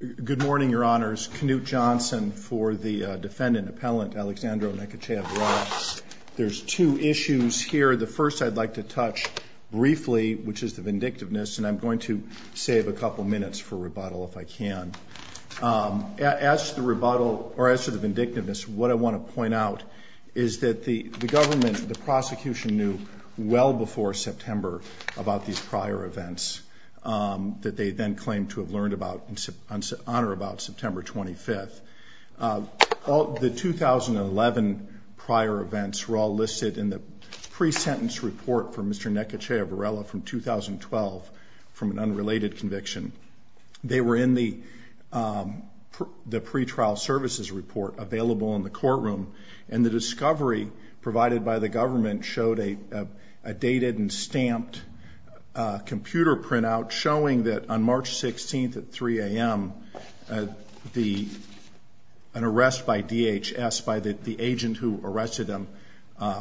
Good morning, Your Honors. Knute Johnson for the defendant, Appellant Alexandro Necochea-Varela. There's two issues here. The first I'd like to touch briefly, which is the vindictiveness, and I'm going to save a couple minutes for rebuttal if I can. As to the vindictiveness, what I want to point out is that the government, the prosecution, knew well before September about these prior events that they then claimed to have learned about and honor about September 25th. The 2011 prior events were all listed in the pre-sentence report for Mr. Necochea-Varela from 2012 from an unrelated conviction. They were in the pretrial services report available in the courtroom, and the discovery provided by the government showed a dated and stamped computer printout showing that on March 16th at 3 a.m. an arrest by DHS by the agent who arrested him,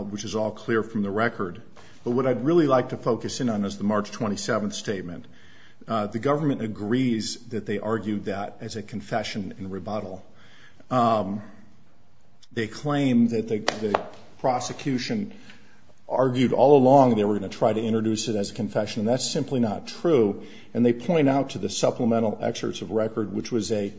which is all clear from the record. But what I'd really like to focus in on is the March 27th statement. The government agrees that they argued that as a confession and rebuttal. They claim that the prosecution argued all along they were going to try to introduce it as a confession, and that's simply not true. And they point out to the supplemental excerpts of record, which was a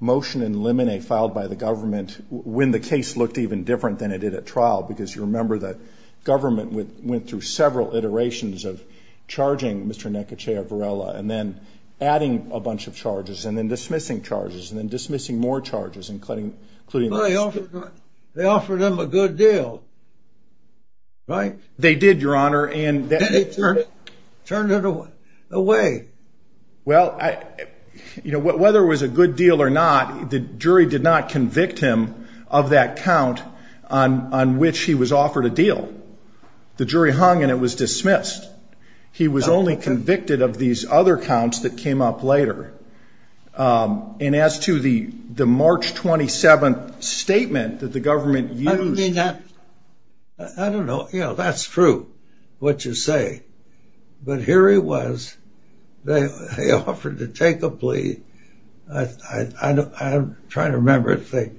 motion in limine filed by the government when the case looked even different than it did at trial, because you remember that government went through several iterations of charging Mr. Necochea-Varela and then adding a bunch of charges and then dismissing charges and then dismissing more charges, including those. Well, they offered him a good deal, right? They did, Your Honor. Did they turn it away? Well, you know, whether it was a good deal or not, the jury did not convict him of that count on which he was offered a deal. The jury hung and it was dismissed. He was only convicted of these other counts that came up later. And as to the March 27th statement that the government used... I don't know. Yeah, that's true, what you say. But here he was. They offered to take a plea. I'm trying to remember if they...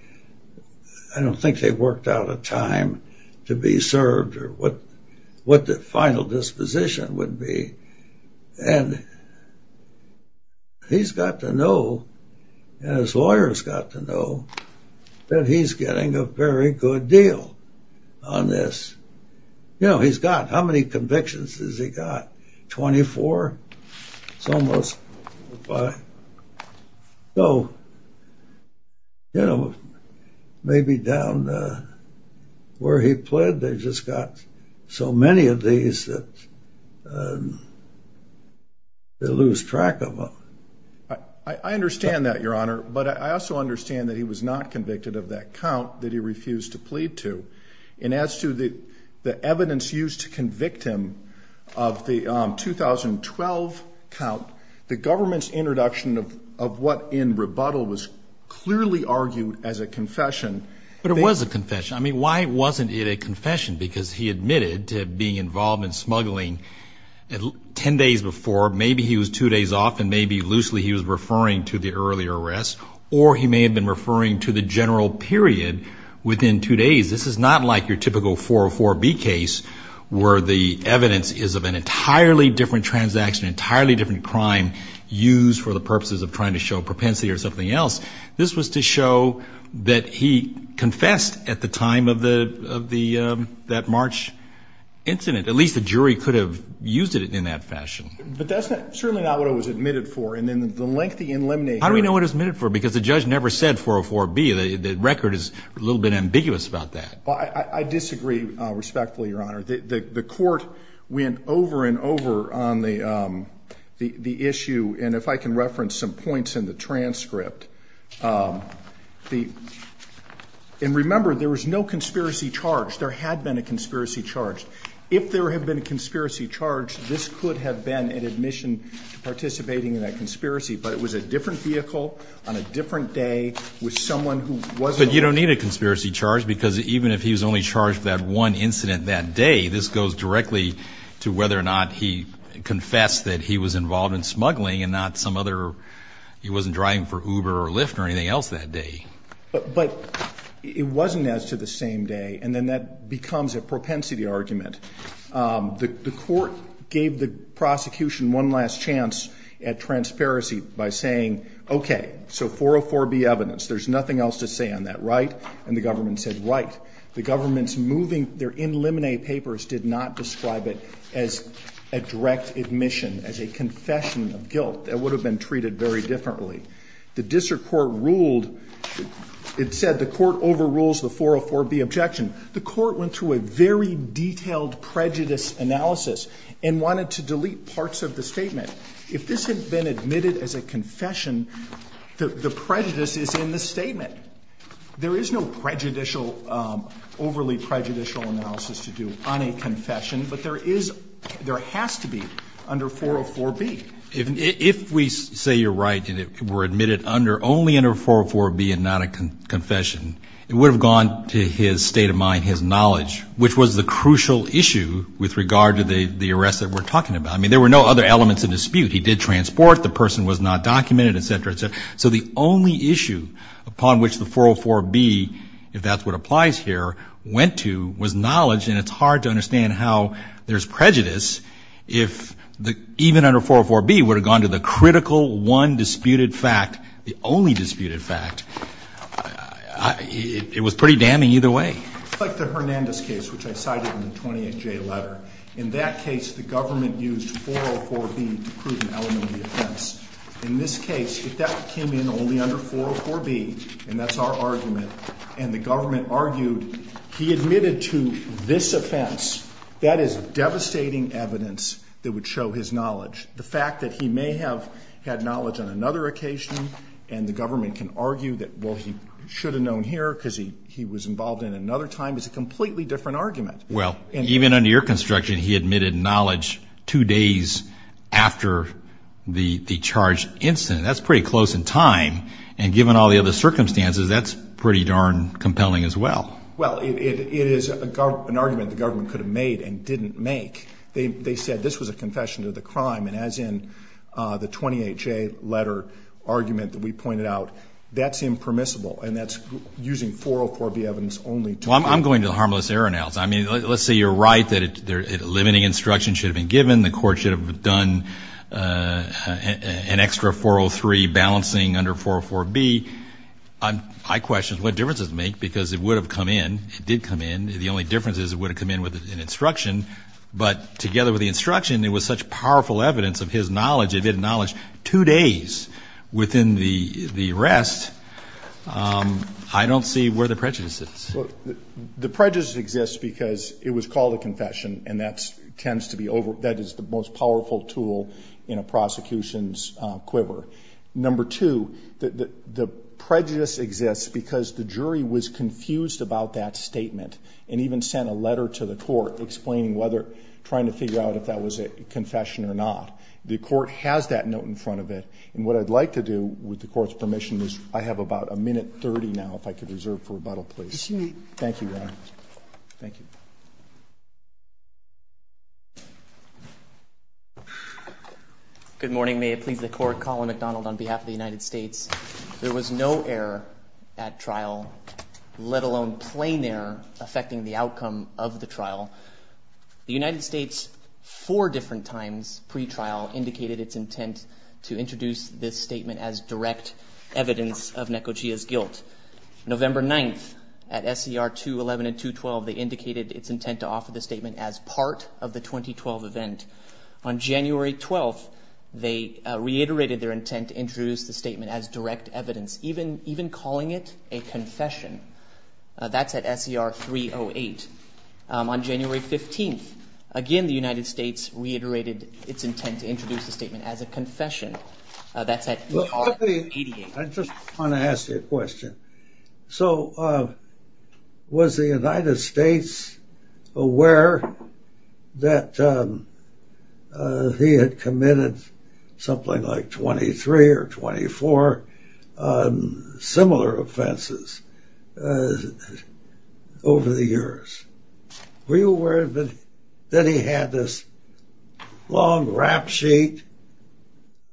what the final disposition would be. And he's got to know, and his lawyers got to know, that he's getting a very good deal on this. You know, he's got... how many convictions has he got? 24? It's almost... So, you know, maybe down where he pled, they've just got so many of these that they lose track of him. I understand that, Your Honor, but I also understand that he was not convicted of that count that he refused to plead to. And as to the evidence used to convict him of the 2012 count, the government's introduction of what, in rebuttal, was clearly argued as a confession... But it was a confession. I mean, why wasn't it a confession? Because he admitted to being involved in smuggling 10 days before. Maybe he was two days off, and maybe loosely he was referring to the earlier arrest. Or he may have been referring to the general period within two days. This is not like your typical 404B case, where the evidence is of an entirely different transaction, an entirely different crime used for the purposes of trying to show propensity or something else. This was to show that he confessed at the time of that March incident. At least the jury could have used it in that fashion. But that's certainly not what it was admitted for. And then the lengthy elimination... How do we know what it was admitted for? Because the judge never said 404B. The record is a little bit ambiguous about that. I disagree respectfully, Your Honor. The court went over and over on the issue. And if I can reference some points in the transcript. And remember, there was no conspiracy charge. There had been a conspiracy charge. If there had been a conspiracy charge, this could have been an admission to participating in that conspiracy. But it was a different vehicle, on a different day, with someone who wasn't... But you don't need a conspiracy charge, because even if he was only charged with that one incident that day, this goes directly to whether or not he confessed that he was involved in smuggling and not some other... He wasn't driving for Uber or Lyft or anything else that day. But it wasn't as to the same day. And then that becomes a propensity argument. The court gave the prosecution one last chance at transparency by saying, okay, so 404B evidence, there's nothing else to say on that, right? And the government said, right. The government's moving their in limine papers did not describe it as a direct admission, as a confession of guilt. That would have been treated very differently. The district court ruled... It said the court overrules the 404B objection. The court went through a very detailed prejudice analysis and wanted to delete parts of the statement. If this had been admitted as a confession, the prejudice is in the statement. There is no prejudicial, overly prejudicial analysis to do on a confession. But there is, there has to be under 404B. If we say you're right and it were admitted under, only under 404B and not a confession, it would have gone to his state of mind, his knowledge, which was the crucial issue with regard to the arrest that we're talking about. I mean, there were no other elements of dispute. He did transport. The person was not documented, et cetera, et cetera. So the only issue upon which the 404B, if that's what applies here, went to was knowledge, and it's hard to understand how there's prejudice if even under 404B would have gone to the critical, one disputed fact, the only disputed fact. It was pretty damning either way. It's like the Hernandez case, which I cited in the 28J letter. In that case, the government used 404B to prove an element of the offense. In this case, if that came in only under 404B, and that's our argument, and the government argued he admitted to this offense, that is devastating evidence that would show his knowledge. The fact that he may have had knowledge on another occasion and the government can argue that, well, he should have known here because he was involved in another time, is a completely different argument. Well, even under your construction, he admitted knowledge two days after the charged incident. That's pretty close in time. And given all the other circumstances, that's pretty darn compelling as well. Well, it is an argument the government could have made and didn't make. They said this was a confession to the crime, and as in the 28J letter argument that we pointed out, that's impermissible, and that's using 404B evidence only. Well, I'm going to the harmless error analysis. I mean, let's say you're right that limiting instruction should have been given. The court should have done an extra 403 balancing under 404B. I question what difference it would make because it would have come in. It did come in. The only difference is it would have come in with an instruction. But together with the instruction, it was such powerful evidence of his knowledge, two days within the arrest, I don't see where the prejudice is. The prejudice exists because it was called a confession, and that tends to be the most powerful tool in a prosecution's quiver. Number two, the prejudice exists because the jury was confused about that statement and even sent a letter to the court explaining whether, trying to figure out if that was a confession or not. The court has that note in front of it. And what I'd like to do, with the court's permission, is I have about a minute 30 now if I could reserve for rebuttal, please. Yes, you may. Thank you, Your Honor. Thank you. Good morning. May it please the Court. Colin McDonald on behalf of the United States. There was no error at trial, let alone plain error, affecting the outcome of the trial. The United States, four different times pre-trial, indicated its intent to introduce this statement as direct evidence of Nekojiya's guilt. November 9th, at SER 211 and 212, they indicated its intent to offer the statement as part of the 2012 event. On January 12th, they reiterated their intent to introduce the statement as direct evidence, even calling it a confession. That's at SER 308. On January 15th, again, the United States reiterated its intent to introduce the statement as a confession. That's at ER 88. I just want to ask you a question. So was the United States aware that he had committed something like 23 or 24 similar offenses over the years? Were you aware that he had this long rap sheet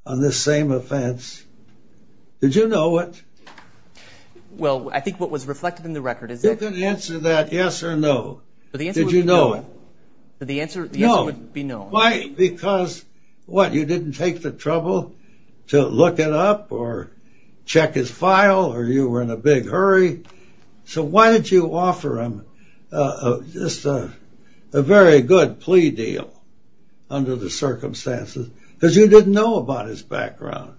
on this same offense? Did you know it? Well, I think what was reflected in the record is that... You can answer that yes or no. Did you know it? The answer would be no. No. Why? Because, what, you didn't take the trouble to look it up or check his file or you were in a big hurry? So why did you offer him just a very good plea deal under the circumstances? Because you didn't know about his background.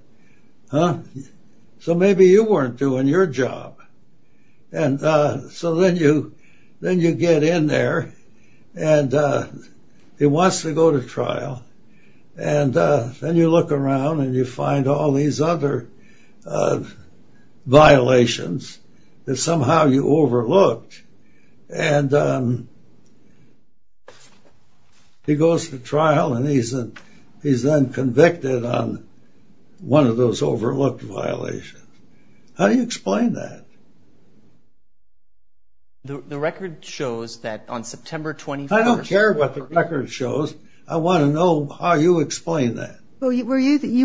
So maybe you weren't doing your job. And so then you get in there and he wants to go to trial. And then you look around and you find all these other violations that somehow you overlooked. And he goes to trial and he's then convicted on one of those overlooked violations. How do you explain that? The record shows that on September 25... I don't care what the record shows. I want to know how you explain that. Well, you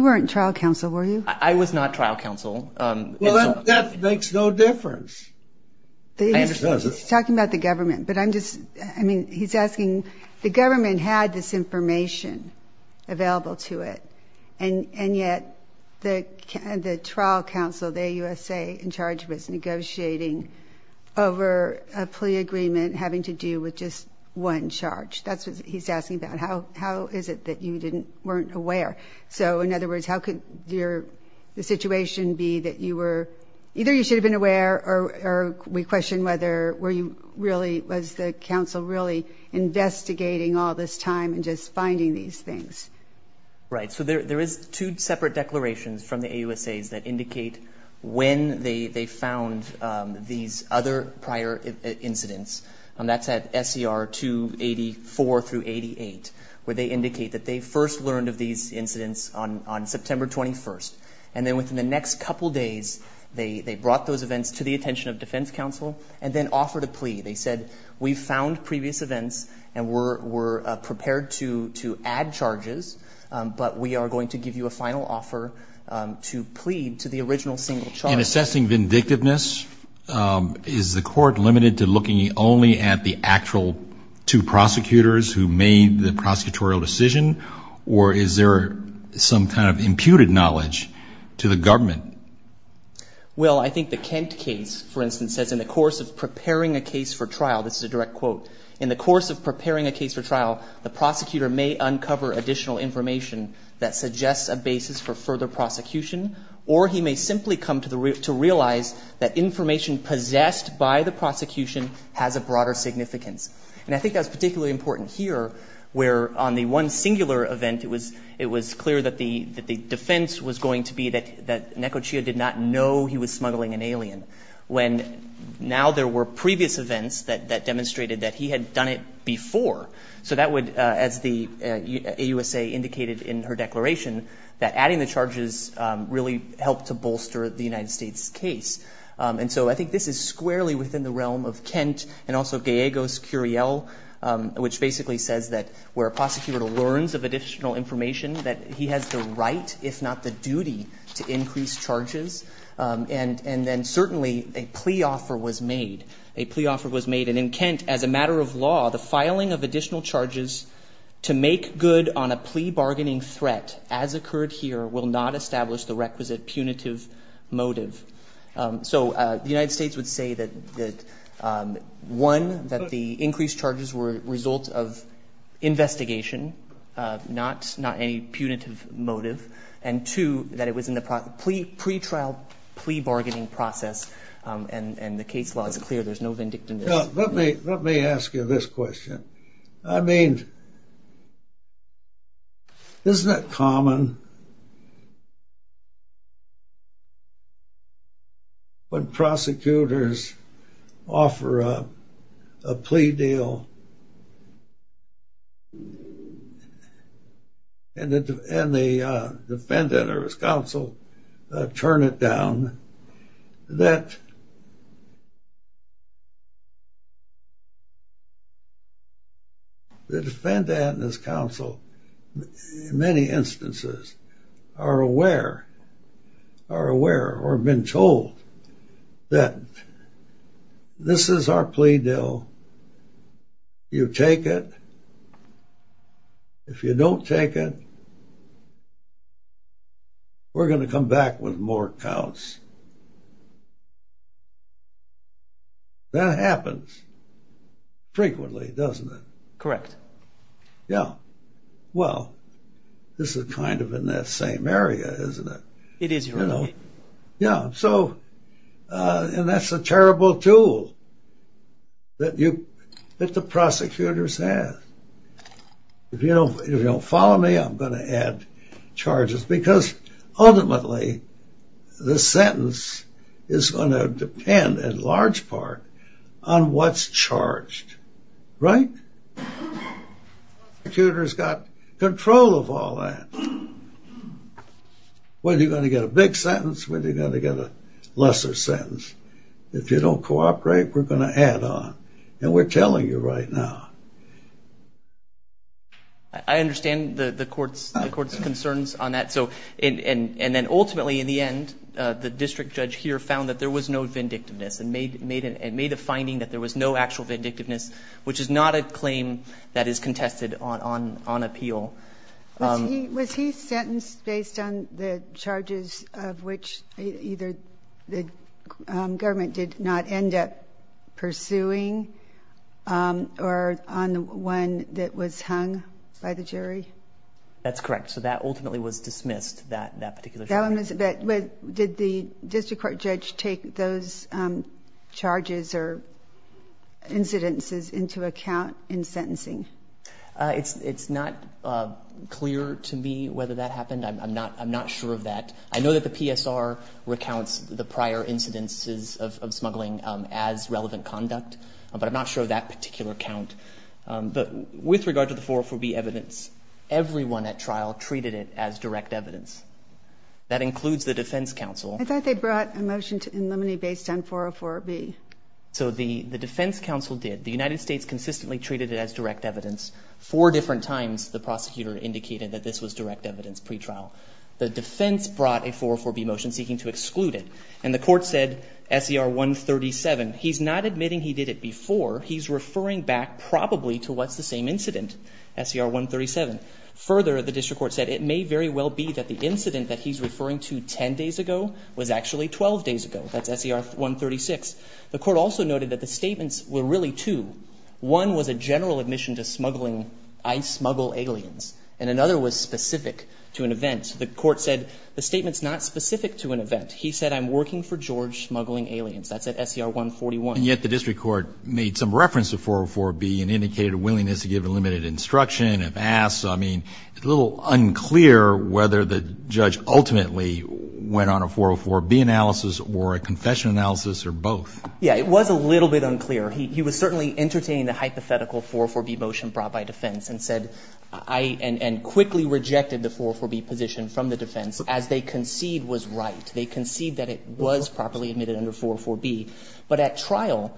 weren't trial counsel, were you? I was not trial counsel. Well, that makes no difference. He's talking about the government. But I'm just, I mean, he's asking, the government had this information available to it. And yet the trial counsel, the AUSA, in charge was negotiating over a plea agreement having to do with just one charge. That's what he's asking about. How is it that you weren't aware? So, in other words, how could the situation be that you were, either you should have been aware or we question whether were you really, was the counsel really investigating all this time and just finding these things? Right. So there is two separate declarations from the AUSAs that indicate when they found these other prior incidents. That's at SER 284 through 88, where they indicate that they first learned of these incidents on September 21st. And then within the next couple days, they brought those events to the attention of defense counsel and then offered a plea. They said, we found previous events and we're prepared to add charges, but we are going to give you a final offer to plead to the original single charge. In assessing vindictiveness, is the court limited to looking only at the actual two prosecutors who made the prosecutorial decision or is there some kind of imputed knowledge to the government? Well, I think the Kent case, for instance, says in the course of preparing a case for trial, this is a direct quote, in the course of preparing a case for trial, the prosecutor may uncover additional information that suggests a basis for further prosecution or he may simply come to realize that information possessed by the prosecution has a broader significance. And I think that's particularly important here, where on the one singular event, it was clear that the defense was going to be that Nekochia did not know he was smuggling an alien, when now there were previous events that demonstrated that he had done it before. So that would, as the AUSA indicated in her declaration, that adding the charges really helped to bolster the United States case. And so I think this is squarely within the realm of Kent and also Gallegos-Curiel, which basically says that where a prosecutor learns of additional information, that he has the right, if not the duty, to increase charges. And then certainly a plea offer was made. And in Kent, as a matter of law, the filing of additional charges to make good on a plea bargaining threat, as occurred here, will not establish the requisite punitive motive. So the United States would say that, one, that the increased charges were a result of investigation, not any punitive motive, and two, that it was in the pretrial plea bargaining process. And the case law is clear. There's no vindictiveness. Let me ask you this question. I mean, isn't it common when prosecutors offer a plea deal and the defendant or his counsel turn it down, that the defendant and his counsel, in many instances, are aware or have been told that this is our plea deal. You take it. If you don't take it, we're going to come back with more counts. That happens frequently, doesn't it? Correct. Yeah. Well, this is kind of in that same area, isn't it? It is. Yeah. So, and that's a terrible tool that the prosecutors have. If you don't follow me, I'm going to add charges, because ultimately the sentence is going to depend, in large part, on what's charged. Right? The prosecutor's got control of all that. Whether you're going to get a big sentence, whether you're going to get a lesser sentence. If you don't cooperate, we're going to add on. And we're telling you right now. I understand the court's concerns on that. And then ultimately, in the end, the district judge here found that there was no vindictiveness and made a finding that there was no actual vindictiveness, which is not a claim that is contested on appeal. Was he sentenced based on the charges of which either the government did not end up pursuing or on the one that was hung by the jury? That's correct. So that ultimately was dismissed, that particular charge. Did the district court judge take those charges or incidences into account in sentencing? It's not clear to me whether that happened. I'm not sure of that. I know that the PSR recounts the prior incidences of smuggling as relevant conduct, but I'm not sure of that particular count. With regard to the 404B evidence, everyone at trial treated it as direct evidence. That includes the defense counsel. I thought they brought a motion to eliminate based on 404B. So the defense counsel did. The United States consistently treated it as direct evidence. Four different times the prosecutor indicated that this was direct evidence pretrial. The defense brought a 404B motion seeking to exclude it. And the court said SCR 137. He's not admitting he did it before. He's referring back probably to what's the same incident, SCR 137. Further, the district court said it may very well be that the incident that he's referring to 10 days ago was actually 12 days ago. That's SCR 136. The court also noted that the statements were really two. One was a general admission to smuggling, I smuggle aliens. And another was specific to an event. The court said the statement's not specific to an event. He said I'm working for George smuggling aliens. That's at SCR 141. And yet the district court made some reference to 404B and indicated a willingness to give a limited instruction. If asked, I mean, it's a little unclear whether the judge ultimately went on a 404B analysis or a confession analysis or both. Yeah, it was a little bit unclear. He was certainly entertaining the hypothetical 404B motion brought by defense and said I and quickly rejected the 404B position from the defense as they concede was right. They concede that it was properly admitted under 404B. But at trial,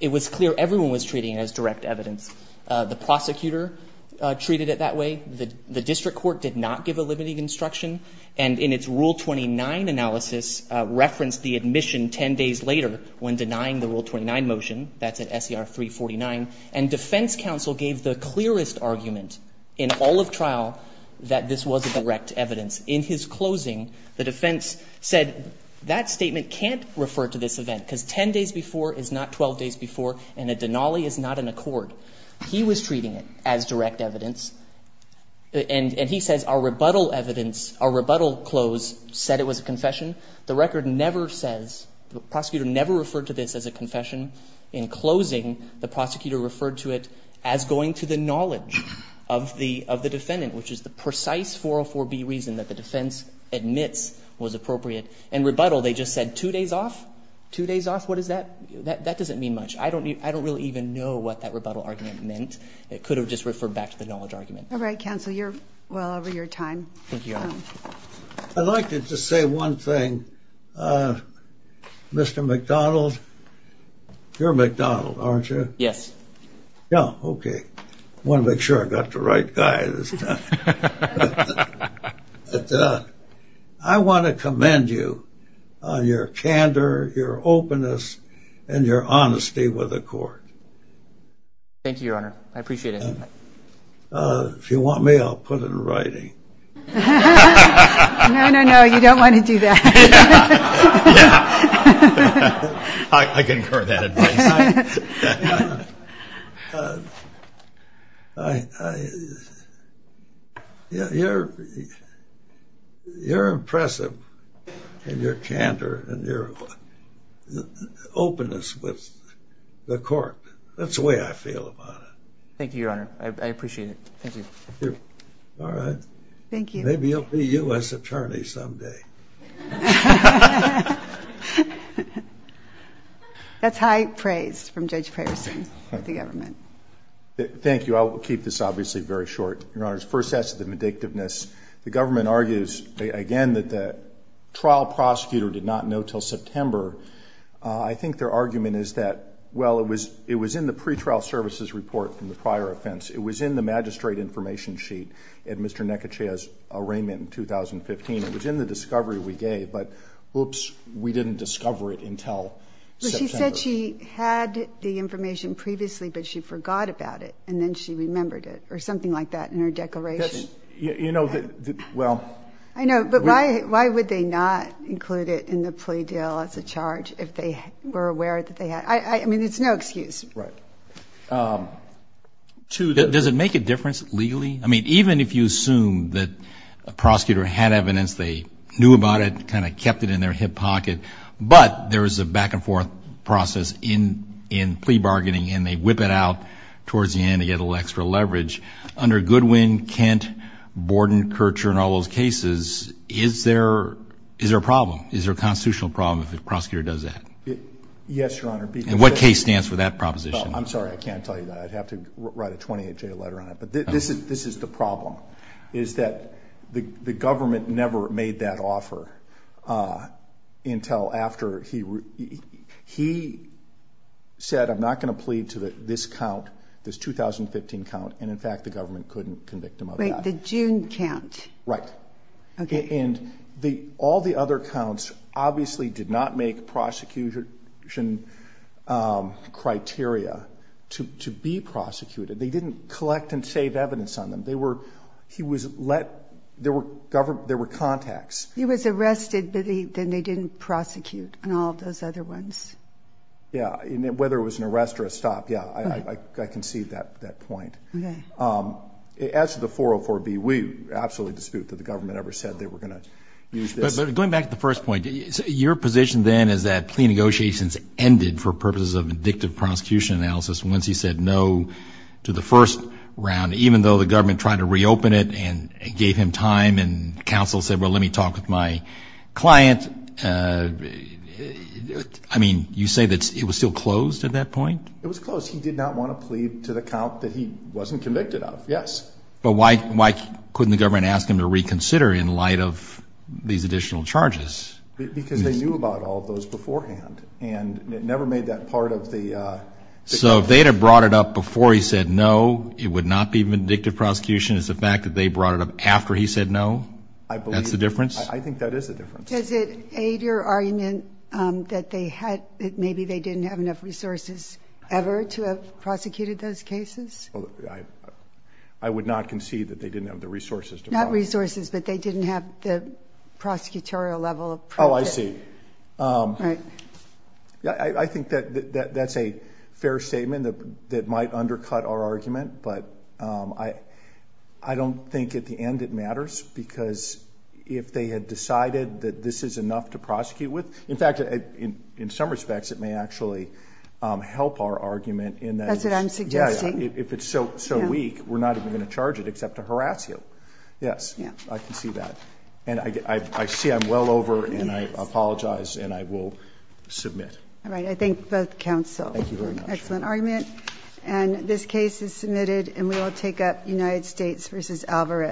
it was clear everyone was treating it as direct evidence. The prosecutor treated it that way. The district court did not give a limited instruction. And in its Rule 29 analysis referenced the admission 10 days later when denying the Rule 29 motion. That's at SCR 349. And defense counsel gave the clearest argument in all of trial that this was direct evidence. In his closing, the defense said that statement can't refer to this event because 10 days before is not 12 days before and a denali is not an accord. He was treating it as direct evidence. And he says our rebuttal evidence, our rebuttal close said it was a confession. The record never says, the prosecutor never referred to this as a confession. In closing, the prosecutor referred to it as going to the knowledge of the defendant, which is the precise 404B reason that the defense admits was appropriate. In rebuttal, they just said two days off. Two days off? What is that? That doesn't mean much. I don't really even know what that rebuttal argument meant. It could have just referred back to the knowledge argument. All right, counsel. You're well over your time. Thank you. I'd like to just say one thing. Mr. McDonald, you're McDonald, aren't you? Yes. Oh, okay. I want to make sure I got the right guy this time. I want to commend you on your candor, your openness, and your honesty with the court. Thank you, Your Honor. I appreciate it. If you want me, I'll put it in writing. No, no, no. You don't want to do that. I concur with that advice. You're impressive in your candor and your openness with the court. That's the way I feel about it. Thank you, Your Honor. I appreciate it. Thank you. All right. Thank you. Maybe you'll be U.S. Attorney someday. That's high praise from Judge Praverson of the government. Thank you. I will keep this obviously very short. Your Honor, first, as to the medictiveness, the government argues, again, that the trial prosecutor did not know until September. I think their argument is that, well, it was in the pretrial services report from the prior offense. It was in the magistrate information sheet at Mr. Nekachaya's arraignment in 2015. It was in the discovery we gave, but, oops, we didn't discover it until September. She said she had the information previously, but she forgot about it, and then she remembered it or something like that in her declaration. You know, well. I know, but why would they not include it in the plea deal as a charge if they were aware that they had? I mean, it's no excuse. Right. Two, does it make a difference legally? I mean, even if you assume that a prosecutor had evidence, they knew about it, kind of kept it in their hip pocket, but there is a back-and-forth process in plea bargaining, and they whip it out towards the end to get a little extra leverage. Under Goodwin, Kent, Borden, Kircher, and all those cases, is there a problem? Is there a constitutional problem if a prosecutor does that? Yes, Your Honor. And what case stands for that proposition? I'm sorry. I can't tell you that. I'd have to write a 28-J letter on it. But this is the problem, is that the government never made that offer until after he said, I'm not going to plead to this count, this 2015 count, and, in fact, the government couldn't convict him of that. Wait. The June count. Right. Okay. And all the other counts obviously did not make prosecution criteria to be prosecuted. They didn't collect and save evidence on them. They were ‑‑ he was let ‑‑ there were contacts. He was arrested, but then they didn't prosecute on all of those other ones. Yeah. Whether it was an arrest or a stop, yeah, I concede that point. Okay. As to the 404B, we absolutely dispute that the government ever said they were going to use this. But going back to the first point, your position then is that plea negotiations ended for purposes of indicative prosecution analysis once he said no to the first round, even though the government tried to reopen it and gave him time and counsel said, well, let me talk with my client. I mean, you say that it was still closed at that point? It was closed. Because he did not want to plead to the count that he wasn't convicted of. Yes. But why couldn't the government ask him to reconsider in light of these additional charges? Because they knew about all of those beforehand. And it never made that part of the ‑‑ So if they had brought it up before he said no, it would not be indicative prosecution. It's the fact that they brought it up after he said no? I believe ‑‑ That's the difference? I think that is the difference. Does it aid your argument that maybe they didn't have enough resources ever to have prosecuted those cases? I would not concede that they didn't have the resources to prosecute. Not resources, but they didn't have the prosecutorial level of practice. Oh, I see. Right. I think that's a fair statement that might undercut our argument, but I don't think at the end it matters because if they had decided that this is enough to prosecute with, in fact, in some respects it may actually help our argument in that ‑‑ That's what I'm suggesting. If it's so weak, we're not even going to charge it except to harass you. Yes. I can see that. And I see I'm well over and I apologize and I will submit. All right. I thank both counsel. Thank you very much. Excellent argument. And this case is submitted and we will take up United States v. Alvarez.